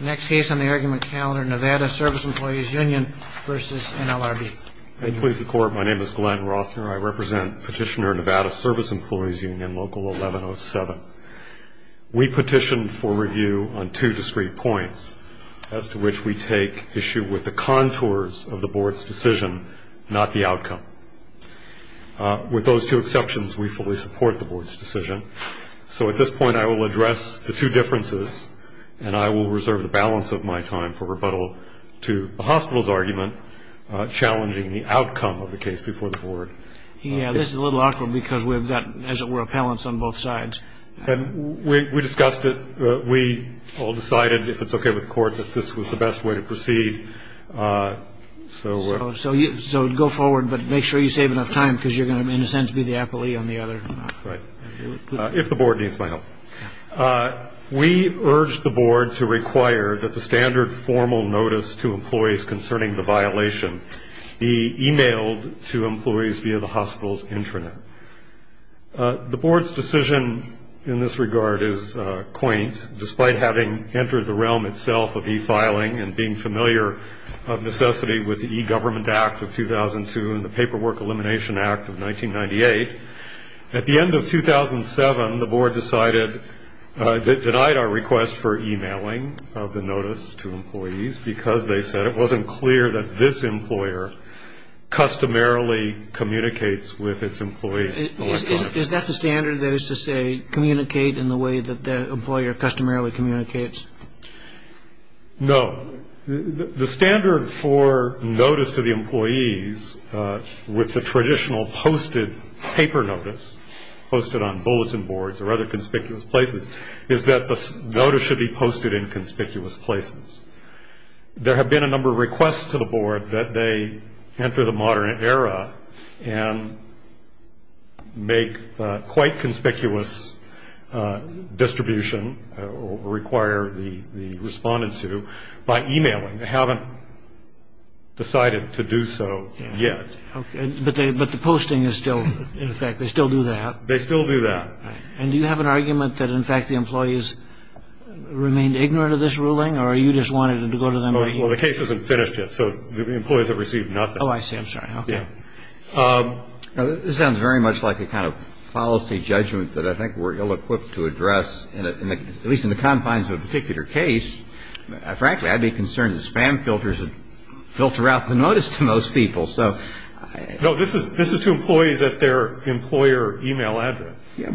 Next case on the argument calendar, Nevada Service Employees Union v. NLRB Please the court, my name is Glenn Rothner. I represent Petitioner Nevada Service Employees Union Local 1107. We petition for review on two discrete points, as to which we take issue with the contours of the board's decision, not the outcome. With those two exceptions, we fully support the board's decision. So at this point, I will address the two differences, and I will reserve the balance of my time for rebuttal to the hospital's argument, challenging the outcome of the case before the board. Yeah, this is a little awkward, because we've got, as it were, appellants on both sides. And we discussed it. We all decided, if it's okay with the court, that this was the best way to proceed. So go forward, but make sure you save enough time, because you're going to, in a sense, be the appellee on the other. Right. If the board needs my help. We urge the board to require that the standard formal notice to employees concerning the violation be emailed to employees via the hospital's intranet. The board's decision in this regard is quaint, despite having entered the realm itself of e-filing and being familiar of necessity with the E-Government Act of 2002 and the Paperwork Elimination Act of 1998. At the end of 2007, the board decided, denied our request for emailing of the notice to employees, because they said it wasn't clear that this employer customarily communicates with its employees electronically. Is that the standard, that is to say, communicate in the way that the employer customarily communicates? No. The standard for notice to the employees with the traditional posted paper notice, posted on bulletin boards or other conspicuous places, is that the notice should be posted in conspicuous places. There have been a number of requests to the board that they enter the modern era and make quite conspicuous distribution, or require the respondent to, by emailing. They haven't decided to do so yet. But the posting is still in effect. They still do that? They still do that. And do you have an argument that, in fact, the employees remained ignorant of this ruling, or you just wanted to go to them right here? Well, the case isn't finished yet, so the employees have received nothing. Oh, I see. I'm sorry. Okay. This sounds very much like a kind of policy judgment that I think we're ill-equipped to address, at least in the confines of a particular case. Frankly, I'd be concerned that spam filters would filter out the notice to most people. No, this is to employees at their employer email address. If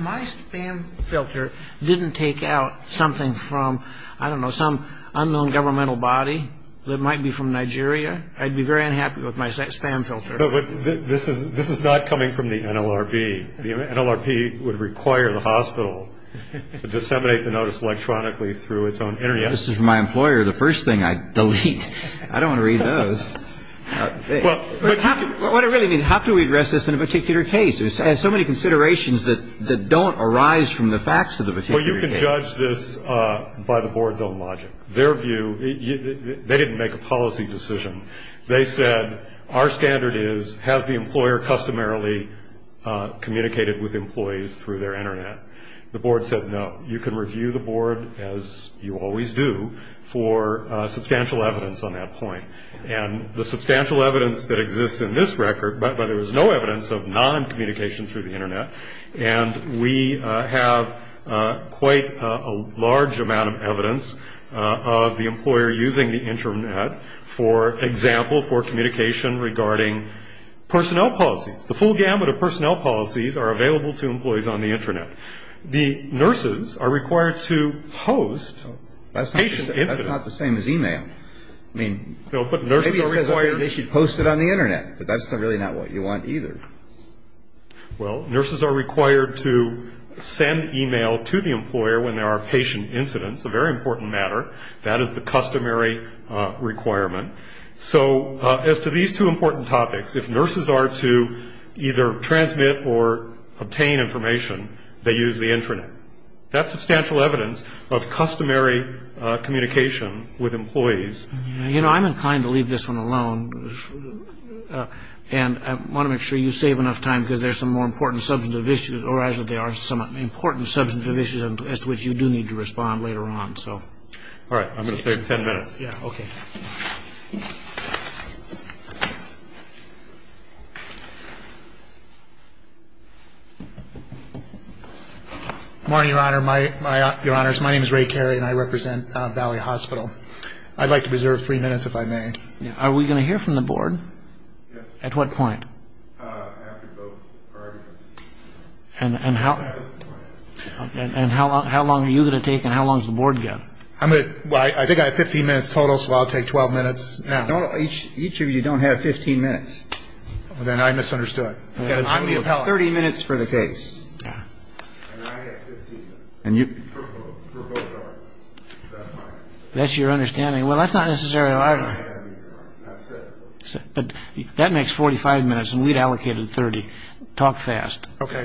my spam filter didn't take out something from, I don't know, some unknown governmental body that might be from Nigeria, I'd be very unhappy with my spam filter. But this is not coming from the NLRB. The NLRB would require the hospital to disseminate the notice electronically through its own internet. This is from my employer. The first thing I delete. I don't want to read those. What I really mean, how can we address this in a particular case? There's so many considerations that don't arise from the facts of the particular case. Well, you can judge this by the board's own logic. Their view, they didn't make a policy decision. They said, our standard is, has the employer customarily communicated with employees through their internet? The board said, no. You can review the board, as you always do, for substantial evidence on that point. And the substantial evidence that exists in this record, but there was no evidence of noncommunication through the internet, and we have quite a large amount of evidence of the employer using the internet, for example, for communication regarding personnel policies. The full gamut of personnel policies are available to employees on the internet. The nurses are required to host patient incidents. That's not the same as e-mail. I mean, maybe they should post it on the internet, but that's really not what you want either. Well, nurses are required to send e-mail to the employer when there are patient incidents, a very important matter. That is the customary requirement. So as to these two important topics, if nurses are to either transmit or obtain information, they use the internet. That's substantial evidence of customary communication with employees. You know, I'm inclined to leave this one alone, and I want to make sure you save enough time because there's some more important substantive issues, or actually there are some important substantive issues as to which you do need to respond later on. All right. I'm going to save ten minutes. Yeah, okay. Good morning, Your Honor. My name is Ray Carey, and I represent Valley Hospital. I'd like to preserve three minutes, if I may. Are we going to hear from the Board? Yes. At what point? After both arguments. And how long are you going to take and how long does the Board go? I think I have 15 minutes total, so I'll take 12 minutes. Each of you don't have 15 minutes. Then I misunderstood. I'm the appellant. You have 30 minutes for the case. And I have 15 minutes for both arguments. That's your understanding. Well, that's not necessarily a lie. But that makes 45 minutes, and we'd allocated 30. Talk fast. Okay.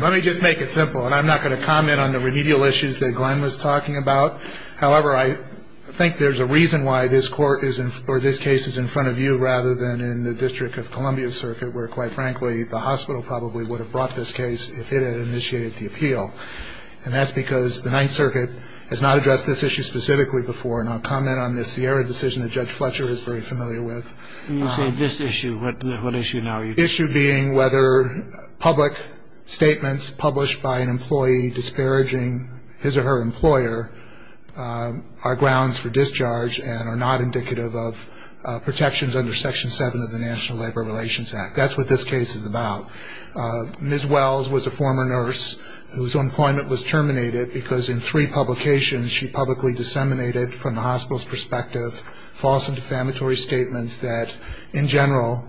Let me just make it simple, and I'm not going to comment on the remedial issues that Glenn was talking about. However, I think there's a reason why this court or this case is in front of you rather than in the District of Columbia circuit where, quite frankly, the hospital probably would have brought this case if it had initiated the appeal. And that's because the Ninth Circuit has not addressed this issue specifically before, and I'll comment on the Sierra decision that Judge Fletcher is very familiar with. You say this issue. What issue now? The issue being whether public statements published by an employee disparaging his or her employer are grounds for discharge and are not indicative of protections under Section 7 of the National Labor Relations Act. That's what this case is about. Ms. Wells was a former nurse whose employment was terminated because in three publications, she publicly disseminated from the hospital's perspective false and defamatory statements that, in general,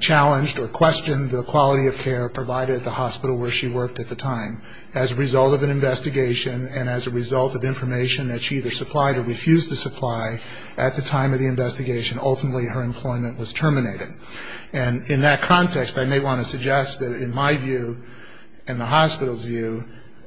challenged or questioned the quality of care provided at the hospital where she worked at the time. As a result of an investigation and as a result of information that she either supplied or refused to supply, at the time of the investigation, ultimately, her employment was terminated. And in that context, I may want to suggest that in my view and the hospital's view,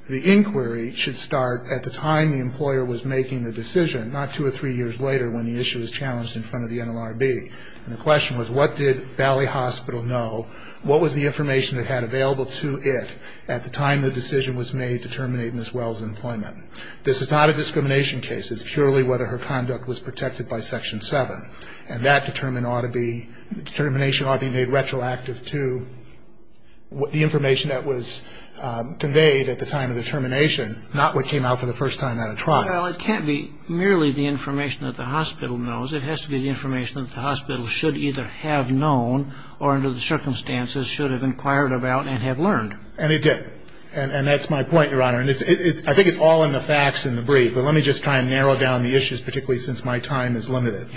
the inquiry should start at the time the employer was making the decision, not two or three years later when the issue was challenged in front of the NLRB. And the question was, what did Valley Hospital know? What was the information it had available to it at the time the decision was made to terminate Ms. Wells' employment? This is not a discrimination case. It's purely whether her conduct was protected by Section 7. And that determination ought to be made retroactive to the information that was conveyed at the time of the termination, not what came out for the first time at a trial. Well, it can't be merely the information that the hospital knows. It has to be the information that the hospital should either have known or under the circumstances should have inquired about and have learned. And it did. And that's my point, Your Honor. And I think it's all in the facts in the brief. But let me just try and narrow down the issues, particularly since my time is limited.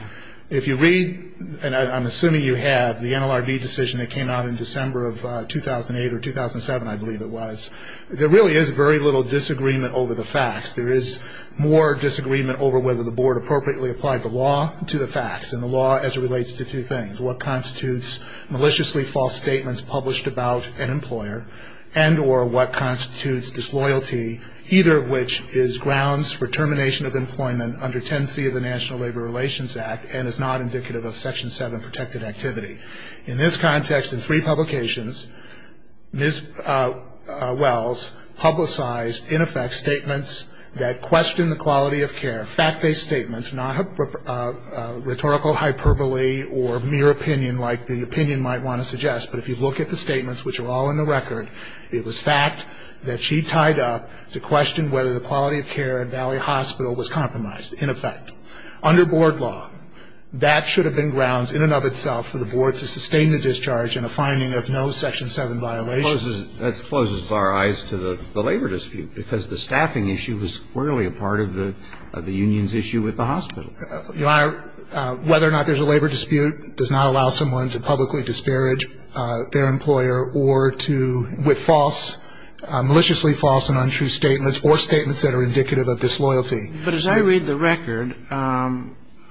If you read, and I'm assuming you have, the NLRB decision that came out in December of 2008 or 2007, I believe it was, there really is very little disagreement over the facts. There is more disagreement over whether the Board appropriately applied the law to the facts and the law as it relates to two things, what constitutes maliciously false statements published about an employer and or what constitutes disloyalty, either of which is grounds for termination of employment under Ten C of the National Labor Relations Act and is not indicative of Section 7 protected activity. In this context, in three publications, Ms. Wells publicized, in effect, statements that questioned the quality of care, fact-based statements, not rhetorical hyperbole or mere opinion like the opinion might want to suggest. But if you look at the statements, which are all in the record, it was fact that she tied up to question whether the quality of care at Valley Hospital was compromised, in effect. Under Board law, that should have been grounds in and of itself for the Board to sustain the discharge in a finding of no Section 7 violation. That closes our eyes to the labor dispute, because the staffing issue was clearly a part of the union's issue with the hospital. Whether or not there's a labor dispute does not allow someone to publicly disparage their employer or to, with false, maliciously false and untrue statements or statements that are indicative of disloyalty. But as I read the record,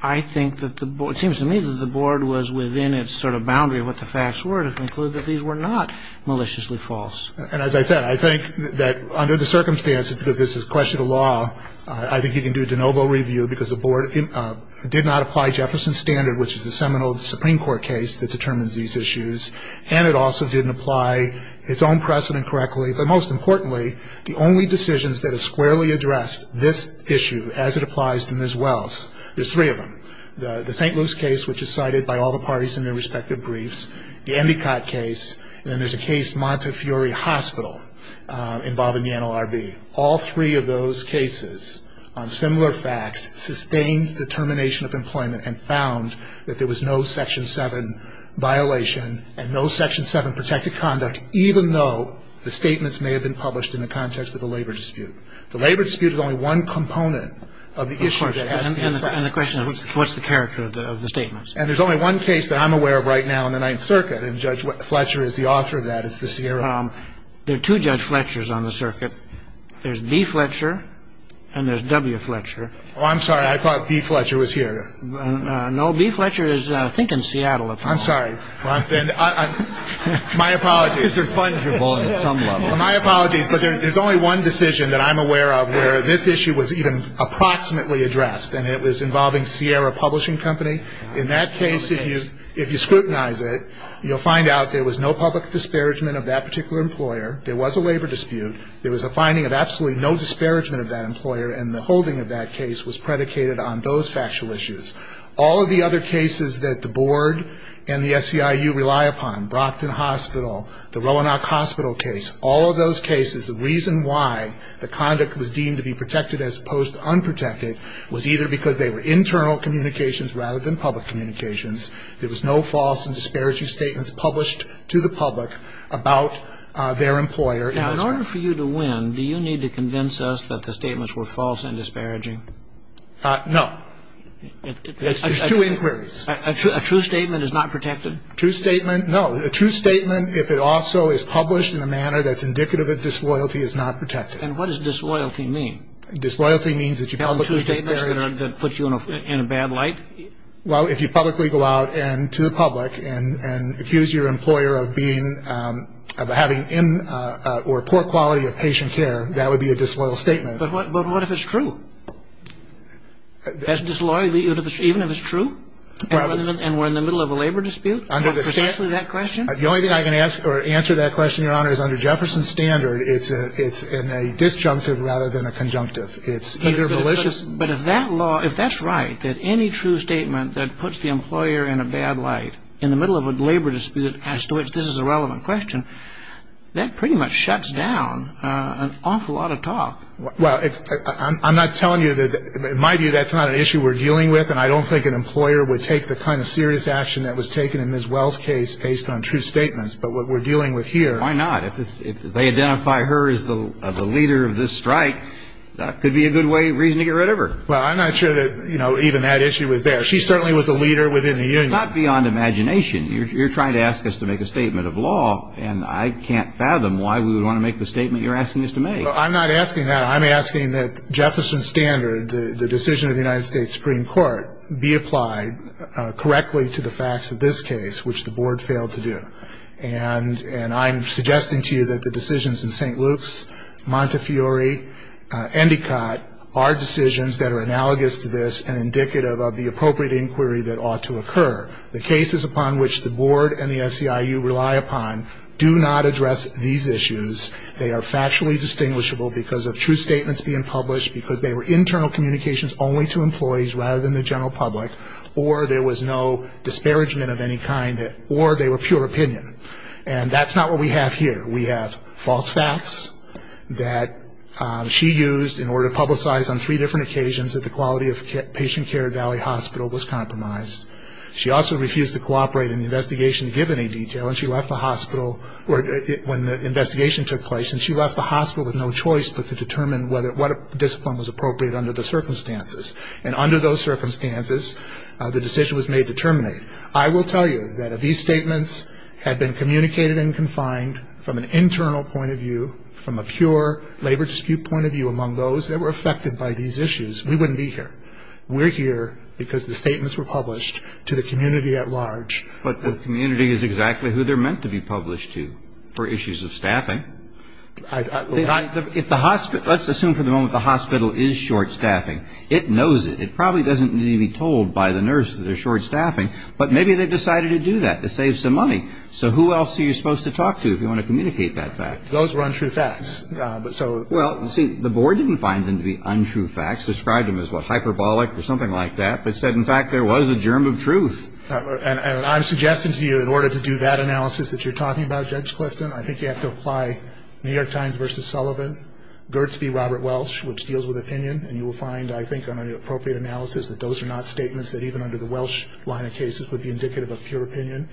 I think that the Board, it seems to me that the Board was within its sort of boundary of what the facts were to conclude that these were not maliciously false. And as I said, I think that under the circumstances, because this is a question of law, I think you can do de novo review, because the Board did not apply Jefferson's standard, which is the seminal Supreme Court case that determines these issues, and it also didn't apply its own precedent correctly. But most importantly, the only decisions that have squarely addressed this issue as it applies to Ms. Wells, there's three of them. The St. Luke's case, which is cited by all the parties in their respective briefs, the Endicott case, and then there's a case, Montefiore Hospital, involving the NLRB. All three of those cases on similar facts sustained determination of employment and found that there was no Section 7 violation and no Section 7 protected conduct, even though the statements may have been published in the context of the labor dispute. The labor dispute is only one component of the issue that has to be assessed. And the question is, what's the character of the statements? And there's only one case that I'm aware of right now in the Ninth Circuit, and Judge Fletcher is the author of that. It's the Sierra. There are two Judge Fletchers on the circuit. There's B. Fletcher and there's W. Fletcher. Oh, I'm sorry. I thought B. Fletcher was here. No, B. Fletcher is, I think, in Seattle at the moment. I'm sorry. My apologies. These are fungible at some level. My apologies. But there's only one decision that I'm aware of where this issue was even approximately addressed, and it was involving Sierra Publishing Company. In that case, if you scrutinize it, you'll find out there was no public disparagement of that particular employer, there was a labor dispute, there was a finding of absolutely no disparagement of that employer, and the holding of that case was predicated on those factual issues. All of the other cases that the Board and the SEIU rely upon, Brockton Hospital, the Roanoke Hospital case, all of those cases, the reason why the conduct was deemed to be protected as opposed to unprotected was either because they were internal communications rather than public communications, there was no false and disparaging statements published to the public about their employer. Now, in order for you to win, do you need to convince us that the statements were false and disparaging? No. There's two inquiries. A true statement is not protected? A true statement, no. A true statement, if it also is published in a manner that's indicative of disloyalty, is not protected. And what does disloyalty mean? Disloyalty means that you publicly disparage. That a true statement is going to put you in a bad light? Well, if you publicly go out to the public and accuse your employer of being, of having poor quality of patient care, that would be a disloyal statement. But what if it's true? Doesn't disloyalty even if it's true and we're in the middle of a labor dispute have precisely that question? The only thing I can ask or answer that question, Your Honor, is under Jefferson's standard, it's in a disjunctive rather than a conjunctive. It's either malicious. But if that's right, that any true statement that puts the employer in a bad light, in the middle of a labor dispute as to which this is a relevant question, that pretty much shuts down an awful lot of talk. Well, I'm not telling you that, in my view, that's not an issue we're dealing with, and I don't think an employer would take the kind of serious action that was taken in Ms. Well's case based on true statements. But what we're dealing with here. Why not? If they identify her as the leader of this strike, that could be a good way, reason to get rid of her. Well, I'm not sure that, you know, even that issue was there. She certainly was a leader within the union. It's not beyond imagination. You're trying to ask us to make a statement of law, I'm not asking that. I'm asking that Jefferson Standard, the decision of the United States Supreme Court, be applied correctly to the facts of this case, which the Board failed to do. And I'm suggesting to you that the decisions in St. Luke's, Montefiore, Endicott, are decisions that are analogous to this and indicative of the appropriate inquiry that ought to occur. The cases upon which the Board and the SEIU rely upon do not address these issues. They are factually distinguishable because of true statements being published, because they were internal communications only to employees rather than the general public, or there was no disparagement of any kind, or they were pure opinion. And that's not what we have here. We have false facts that she used in order to publicize on three different occasions that the quality of patient care at Valley Hospital was compromised. She also refused to cooperate in the investigation to give any detail, and she left the hospital when the investigation took place, and she left the hospital with no choice but to determine what discipline was appropriate under the circumstances. And under those circumstances, the decision was made to terminate. I will tell you that if these statements had been communicated and confined from an internal point of view, from a pure labor dispute point of view among those that were affected by these issues, we wouldn't be here. We're here because the statements were published to the community at large. But the community is exactly who they're meant to be published to for issues of staffing. Let's assume for the moment the hospital is short-staffing. It knows it. It probably doesn't need to be told by the nurse that they're short-staffing, but maybe they decided to do that to save some money. So who else are you supposed to talk to if you want to communicate that fact? Those were untrue facts. Well, see, the board didn't find them to be untrue facts, described them as, what, hyperbolic or something like that, but said, in fact, there was a germ of truth. And I'm suggesting to you in order to do that analysis that you're talking about, Judge Clifton, I think you have to apply New York Times v. Sullivan, Gertz v. Robert Welsh, which deals with opinion. And you will find, I think, on an appropriate analysis, that those are not statements that even under the Welsh line of cases would be indicative of pure opinion.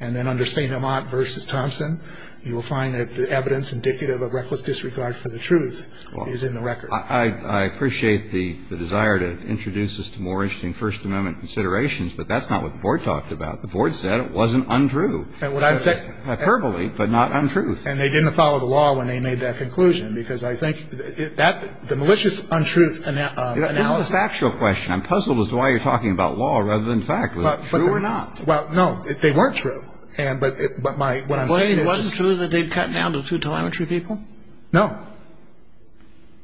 And then under St. Amant v. Thompson, you will find that the evidence indicative of reckless disregard for the truth is in the record. I appreciate the desire to introduce this to more interesting First Amendment considerations, but that's not what the board talked about. The board said it wasn't untrue. Hyperbole, but not untruth. And they didn't follow the law when they made that conclusion, because I think that the malicious untruth analysis. This is a factual question. I'm puzzled as to why you're talking about law rather than fact. Was it true or not? They weren't true. But what I'm saying is this. Blaine, wasn't it true that they'd cut down to two telemetry people? No.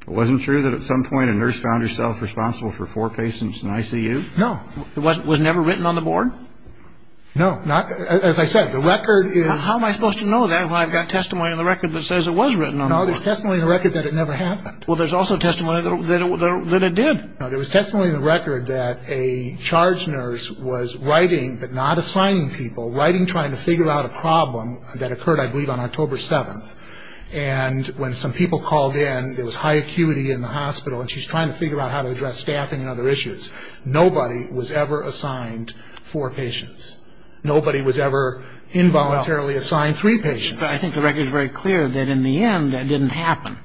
Wasn't it true that at some point a nurse found herself responsible for four patients in ICU? No. It was never written on the board? No. As I said, the record is... How am I supposed to know that when I've got testimony on the record that says it was written on the board? No, there's testimony on the record that it never happened. Well, there's also testimony that it did. No, there was testimony on the record that a charge nurse was writing, but not assigning people, writing trying to figure out a problem that occurred, I believe, on October 7th. And when some people called in, there was high acuity in the hospital, and she's trying to figure out how to address staffing and other issues. Nobody was ever assigned four patients. Nobody was ever involuntarily assigned three patients. But I think the record is very clear that in the end that didn't happen.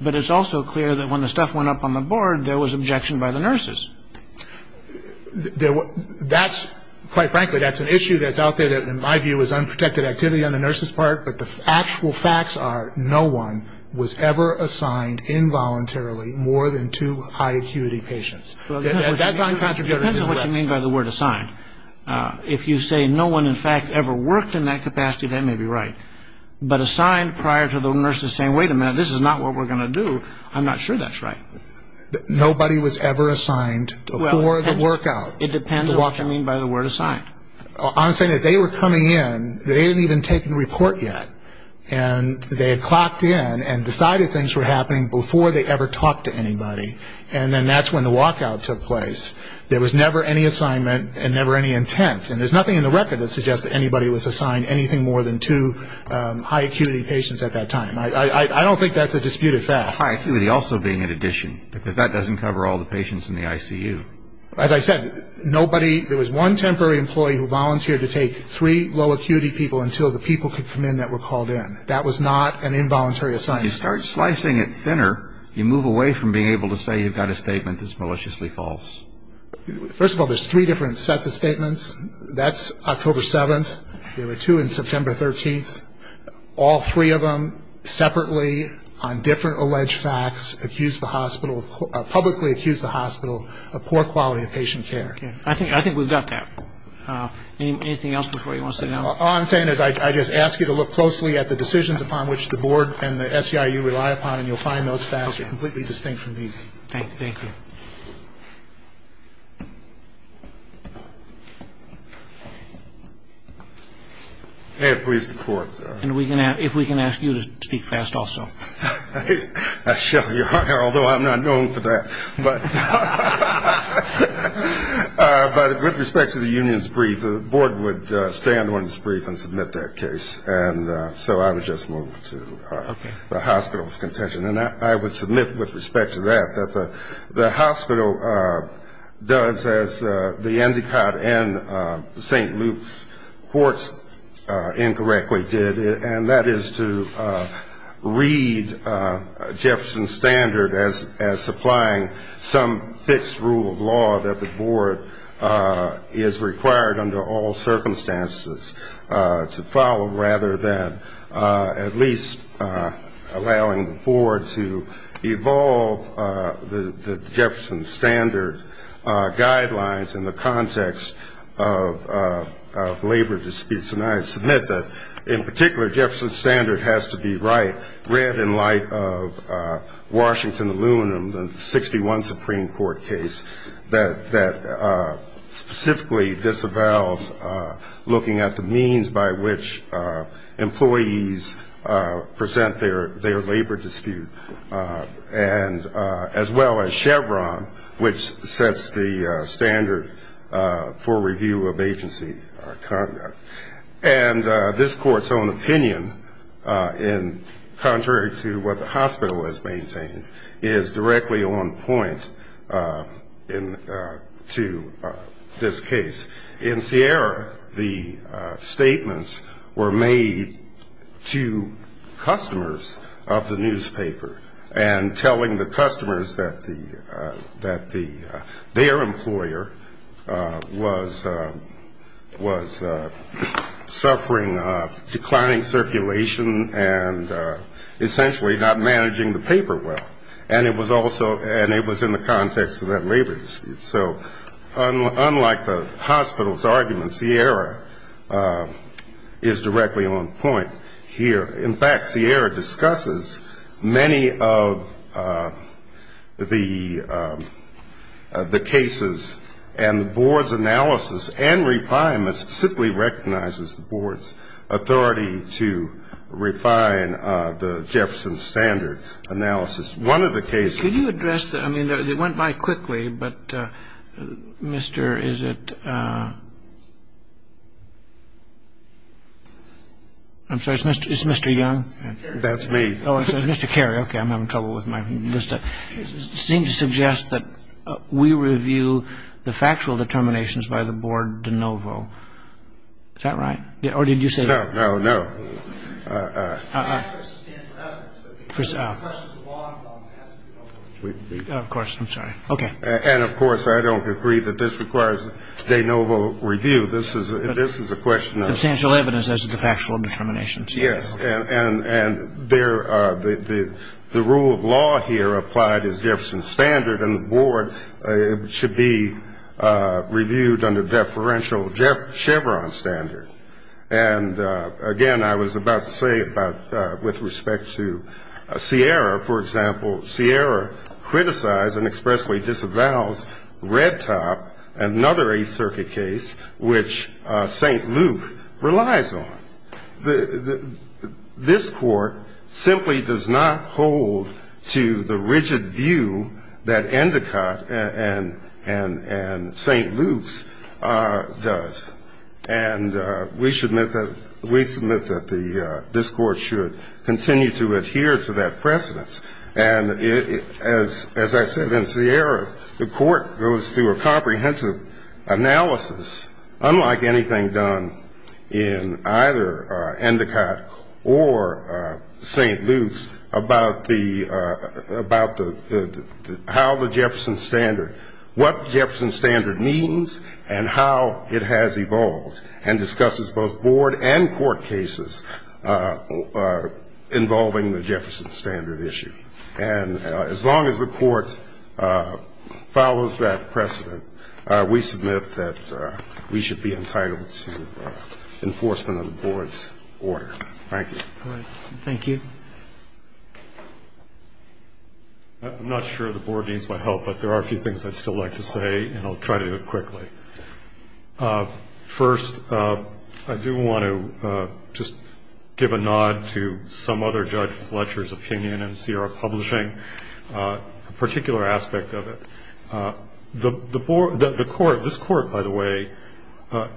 But it's also clear that when the stuff went up on the board, there was objection by the nurses. Quite frankly, that's an issue that's out there that in my view is unprotected activity on the nurses' part, but the actual facts are no one was ever assigned involuntarily more than two high acuity patients. That's uncontroversial. It depends on what you mean by the word assigned. If you say no one in fact ever worked in that capacity, that may be right. But assigned prior to the nurses saying, wait a minute, this is not what we're going to do, I'm not sure that's right. Nobody was ever assigned before the workout. It depends on what you mean by the word assigned. All I'm saying is they were coming in, they hadn't even taken the report yet, and they had clocked in and decided things were happening before they ever talked to anybody, and then that's when the walkout took place. There was never any assignment and never any intent, and there's nothing in the record that suggests that anybody was assigned anything more than two high acuity patients at that time. I don't think that's a disputed fact. High acuity also being an addition, because that doesn't cover all the patients in the ICU. As I said, nobody, there was one temporary employee who volunteered to take three low acuity people until the people could come in that were called in. That was not an involuntary assignment. When you start slicing it thinner, you move away from being able to say you've got a statement that's maliciously false. First of all, there's three different sets of statements. That's October 7th. There were two on September 13th. All three of them separately on different alleged facts publicly accused the hospital of poor quality of patient care. I think we've got that. Anything else before you want to sit down? All I'm saying is I just ask you to look closely at the decisions upon which the board and the SEIU rely upon, and you'll find those facts are completely distinct from these. Thank you. May it please the Court. And if we can ask you to speak fast also. I shall, Your Honor, although I'm not known for that. But with respect to the union's brief, the board would stand on its brief and submit that case. And so I would just move to the hospital's contention. And I would submit with respect to that that the hospital does, as the Endicott and the St. Luke's courts incorrectly did, and that is to read Jefferson's standard as supplying some fixed rule of law that the board is required, under all circumstances, to follow, rather than at least allowing the board to evolve the Jefferson's standard guidelines in the context of labor disputes. And I submit that, in particular, Jefferson's standard has to be read in light of Washington aluminum, the 61 Supreme Court case, that specifically disavows looking at the means by which employees present their labor dispute, as well as Chevron, which sets the standard for review of agency conduct. And this Court's own opinion, contrary to what the hospital has maintained, is directly on point to this case. In Sierra, the statements were made to customers of the newspaper, and telling the customers that their employer was suffering declining circulation and essentially not managing the paper well. And it was also, and it was in the context of that labor dispute. So, unlike the hospital's arguments, Sierra is directly on point here. In fact, Sierra discusses many of the cases, and the board's analysis and refinements simply recognizes the board's authority to refine the Jefferson's standard analysis. One of the cases- I mean, it went by quickly, but Mr. Is it- I'm sorry, is it Mr. Young? That's me. Oh, it's Mr. Carey. Okay, I'm having trouble with my list. It seems to suggest that we review the factual determinations by the board de novo. Is that right? Or did you say- No, no, no. The answer is in evidence, but the question is the law. Of course, I'm sorry. Okay. And, of course, I don't agree that this requires de novo review. This is a question of- Substantial evidence as to the factual determinations. Yes. And the rule of law here applied is Jefferson's standard, and the board should be reviewed under deferential Chevron standard. And, again, I was about to say with respect to Sierra, for example, Sierra criticized and expressly disavows Red Top, another Eighth Circuit case, which St. Luke relies on. This court simply does not hold to the rigid view that Endicott and St. Luke's does. And we submit that this court should continue to adhere to that precedence. And as I said in Sierra, the court goes through a comprehensive analysis, unlike anything done in either Endicott or St. Luke's, about how the Jefferson standard, what the Jefferson standard means and how it has evolved, and discusses both board and court cases involving the Jefferson standard issue. And as long as the court follows that precedent, we submit that we should be entitled to enforcement of the board's order. Thank you. Thank you. I'm not sure the board needs my help, but there are a few things I'd still like to say, and I'll try to do it quickly. First, I do want to just give a nod to some other judge Fletcher's opinion in Sierra Publishing, a particular aspect of it. The court, this court, by the way,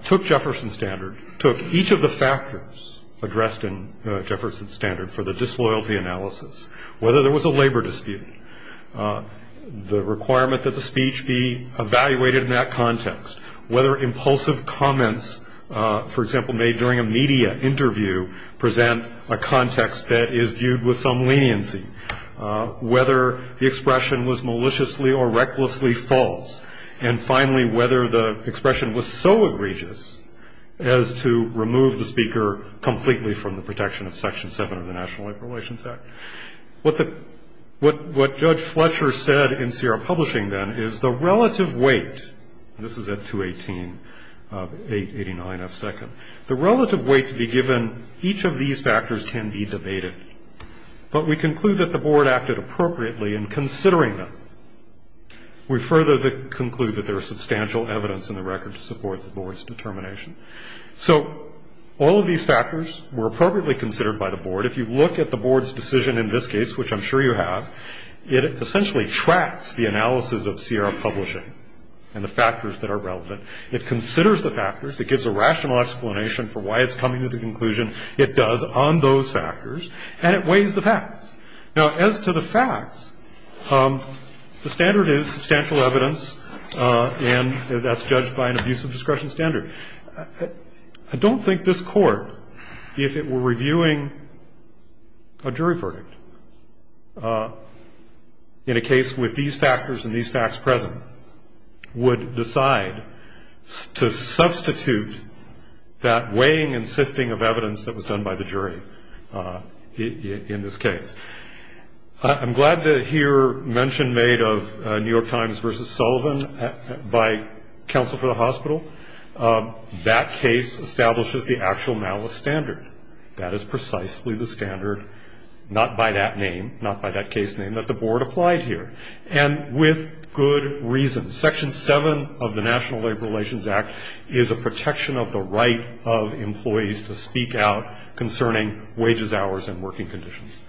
took Jefferson standard, took each of the factors addressed in Jefferson standard for the disloyalty analysis, whether there was a labor dispute, the requirement that the speech be evaluated in that context, whether impulsive comments, for example, made during a media interview present a context that is viewed with some leniency, whether the expression was maliciously or recklessly false, and finally, whether the expression was so egregious as to remove the speaker completely from the protection of Section 7 of the National Labor Relations Act. What Judge Fletcher said in Sierra Publishing then is the relative weight, and this is at 218 of 889 of 2nd, the relative weight to be given each of these factors can be debated, but we conclude that the board acted appropriately in considering them. We further conclude that there is substantial evidence in the record to support the board's determination. So all of these factors were appropriately considered by the board. If you look at the board's decision in this case, which I'm sure you have, it essentially tracks the analysis of Sierra Publishing and the factors that are relevant. It considers the factors. It gives a rational explanation for why it's coming to the conclusion. It does on those factors, and it weighs the facts. Now, as to the facts, the standard is substantial evidence, and that's judged by an abusive discretion standard. I don't think this Court, if it were reviewing a jury verdict in a case with these factors and these facts present, would decide to substitute that weighing and sifting of evidence that was done by the jury in this case. I'm glad to hear mention made of New York Times v. Sullivan by counsel for the hospital. That case establishes the actual malice standard. That is precisely the standard, not by that name, not by that case name, that the board applied here, and with good reason. Section 7 of the National Labor Relations Act is a protection of the right of employees to speak out concerning wages, hours, and working conditions.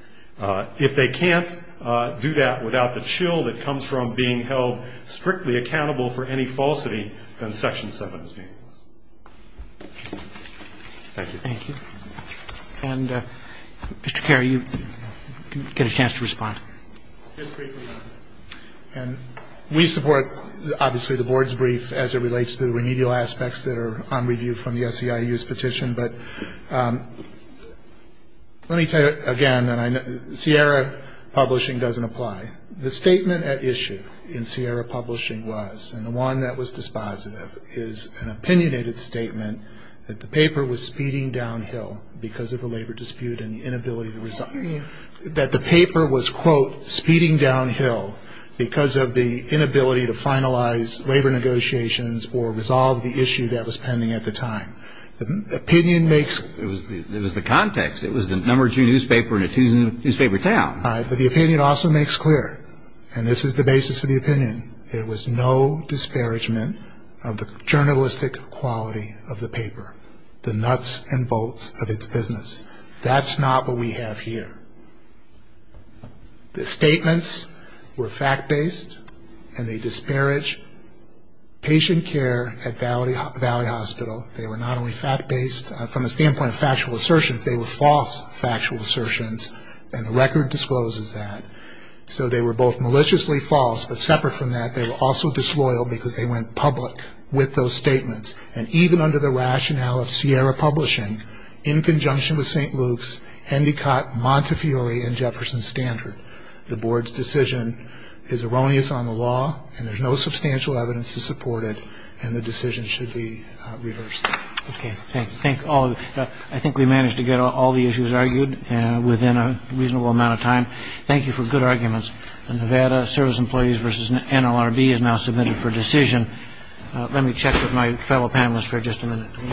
If they can't do that without the chill that comes from being held strictly accountable for any falsity, then Section 7 is being lost. Thank you. Thank you. And, Mr. Kerr, you get a chance to respond. Just briefly, Your Honor, we support, obviously, the board's brief as it relates to the remedial aspects that are on review from the SEIU's petition. But let me tell you, again, Sierra Publishing doesn't apply. The statement at issue in Sierra Publishing was, and the one that was dispositive, is an opinionated statement that the paper was speeding downhill because of the labor dispute and the inability to resolve it. That the paper was, quote, speeding downhill because of the inability to finalize labor negotiations or resolve the issue that was pending at the time. The opinion makes... It was the context. It was the number two newspaper in a two-newspaper town. All right. But the opinion also makes clear, and this is the basis for the opinion, there was no disparagement of the journalistic quality of the paper, the nuts and bolts of its business. That's not what we have here. The statements were fact-based, and they disparage patient care at Valley Hospital. They were not only fact-based from the standpoint of factual assertions. They were false factual assertions, and the record discloses that. So they were both maliciously false, but separate from that, they were also disloyal because they went public with those statements. And even under the rationale of Sierra Publishing, in conjunction with St. Luke's, Endicott, Montefiore, and Jefferson Standard, the board's decision is erroneous on the law, and there's no substantial evidence to support it, and the decision should be reversed. Okay. Thank you. I think we managed to get all the issues argued within a reasonable amount of time. Thank you for good arguments. The Nevada Service Employees v. NLRB is now submitted for decision. Let me check with my fellow panelists for just a minute.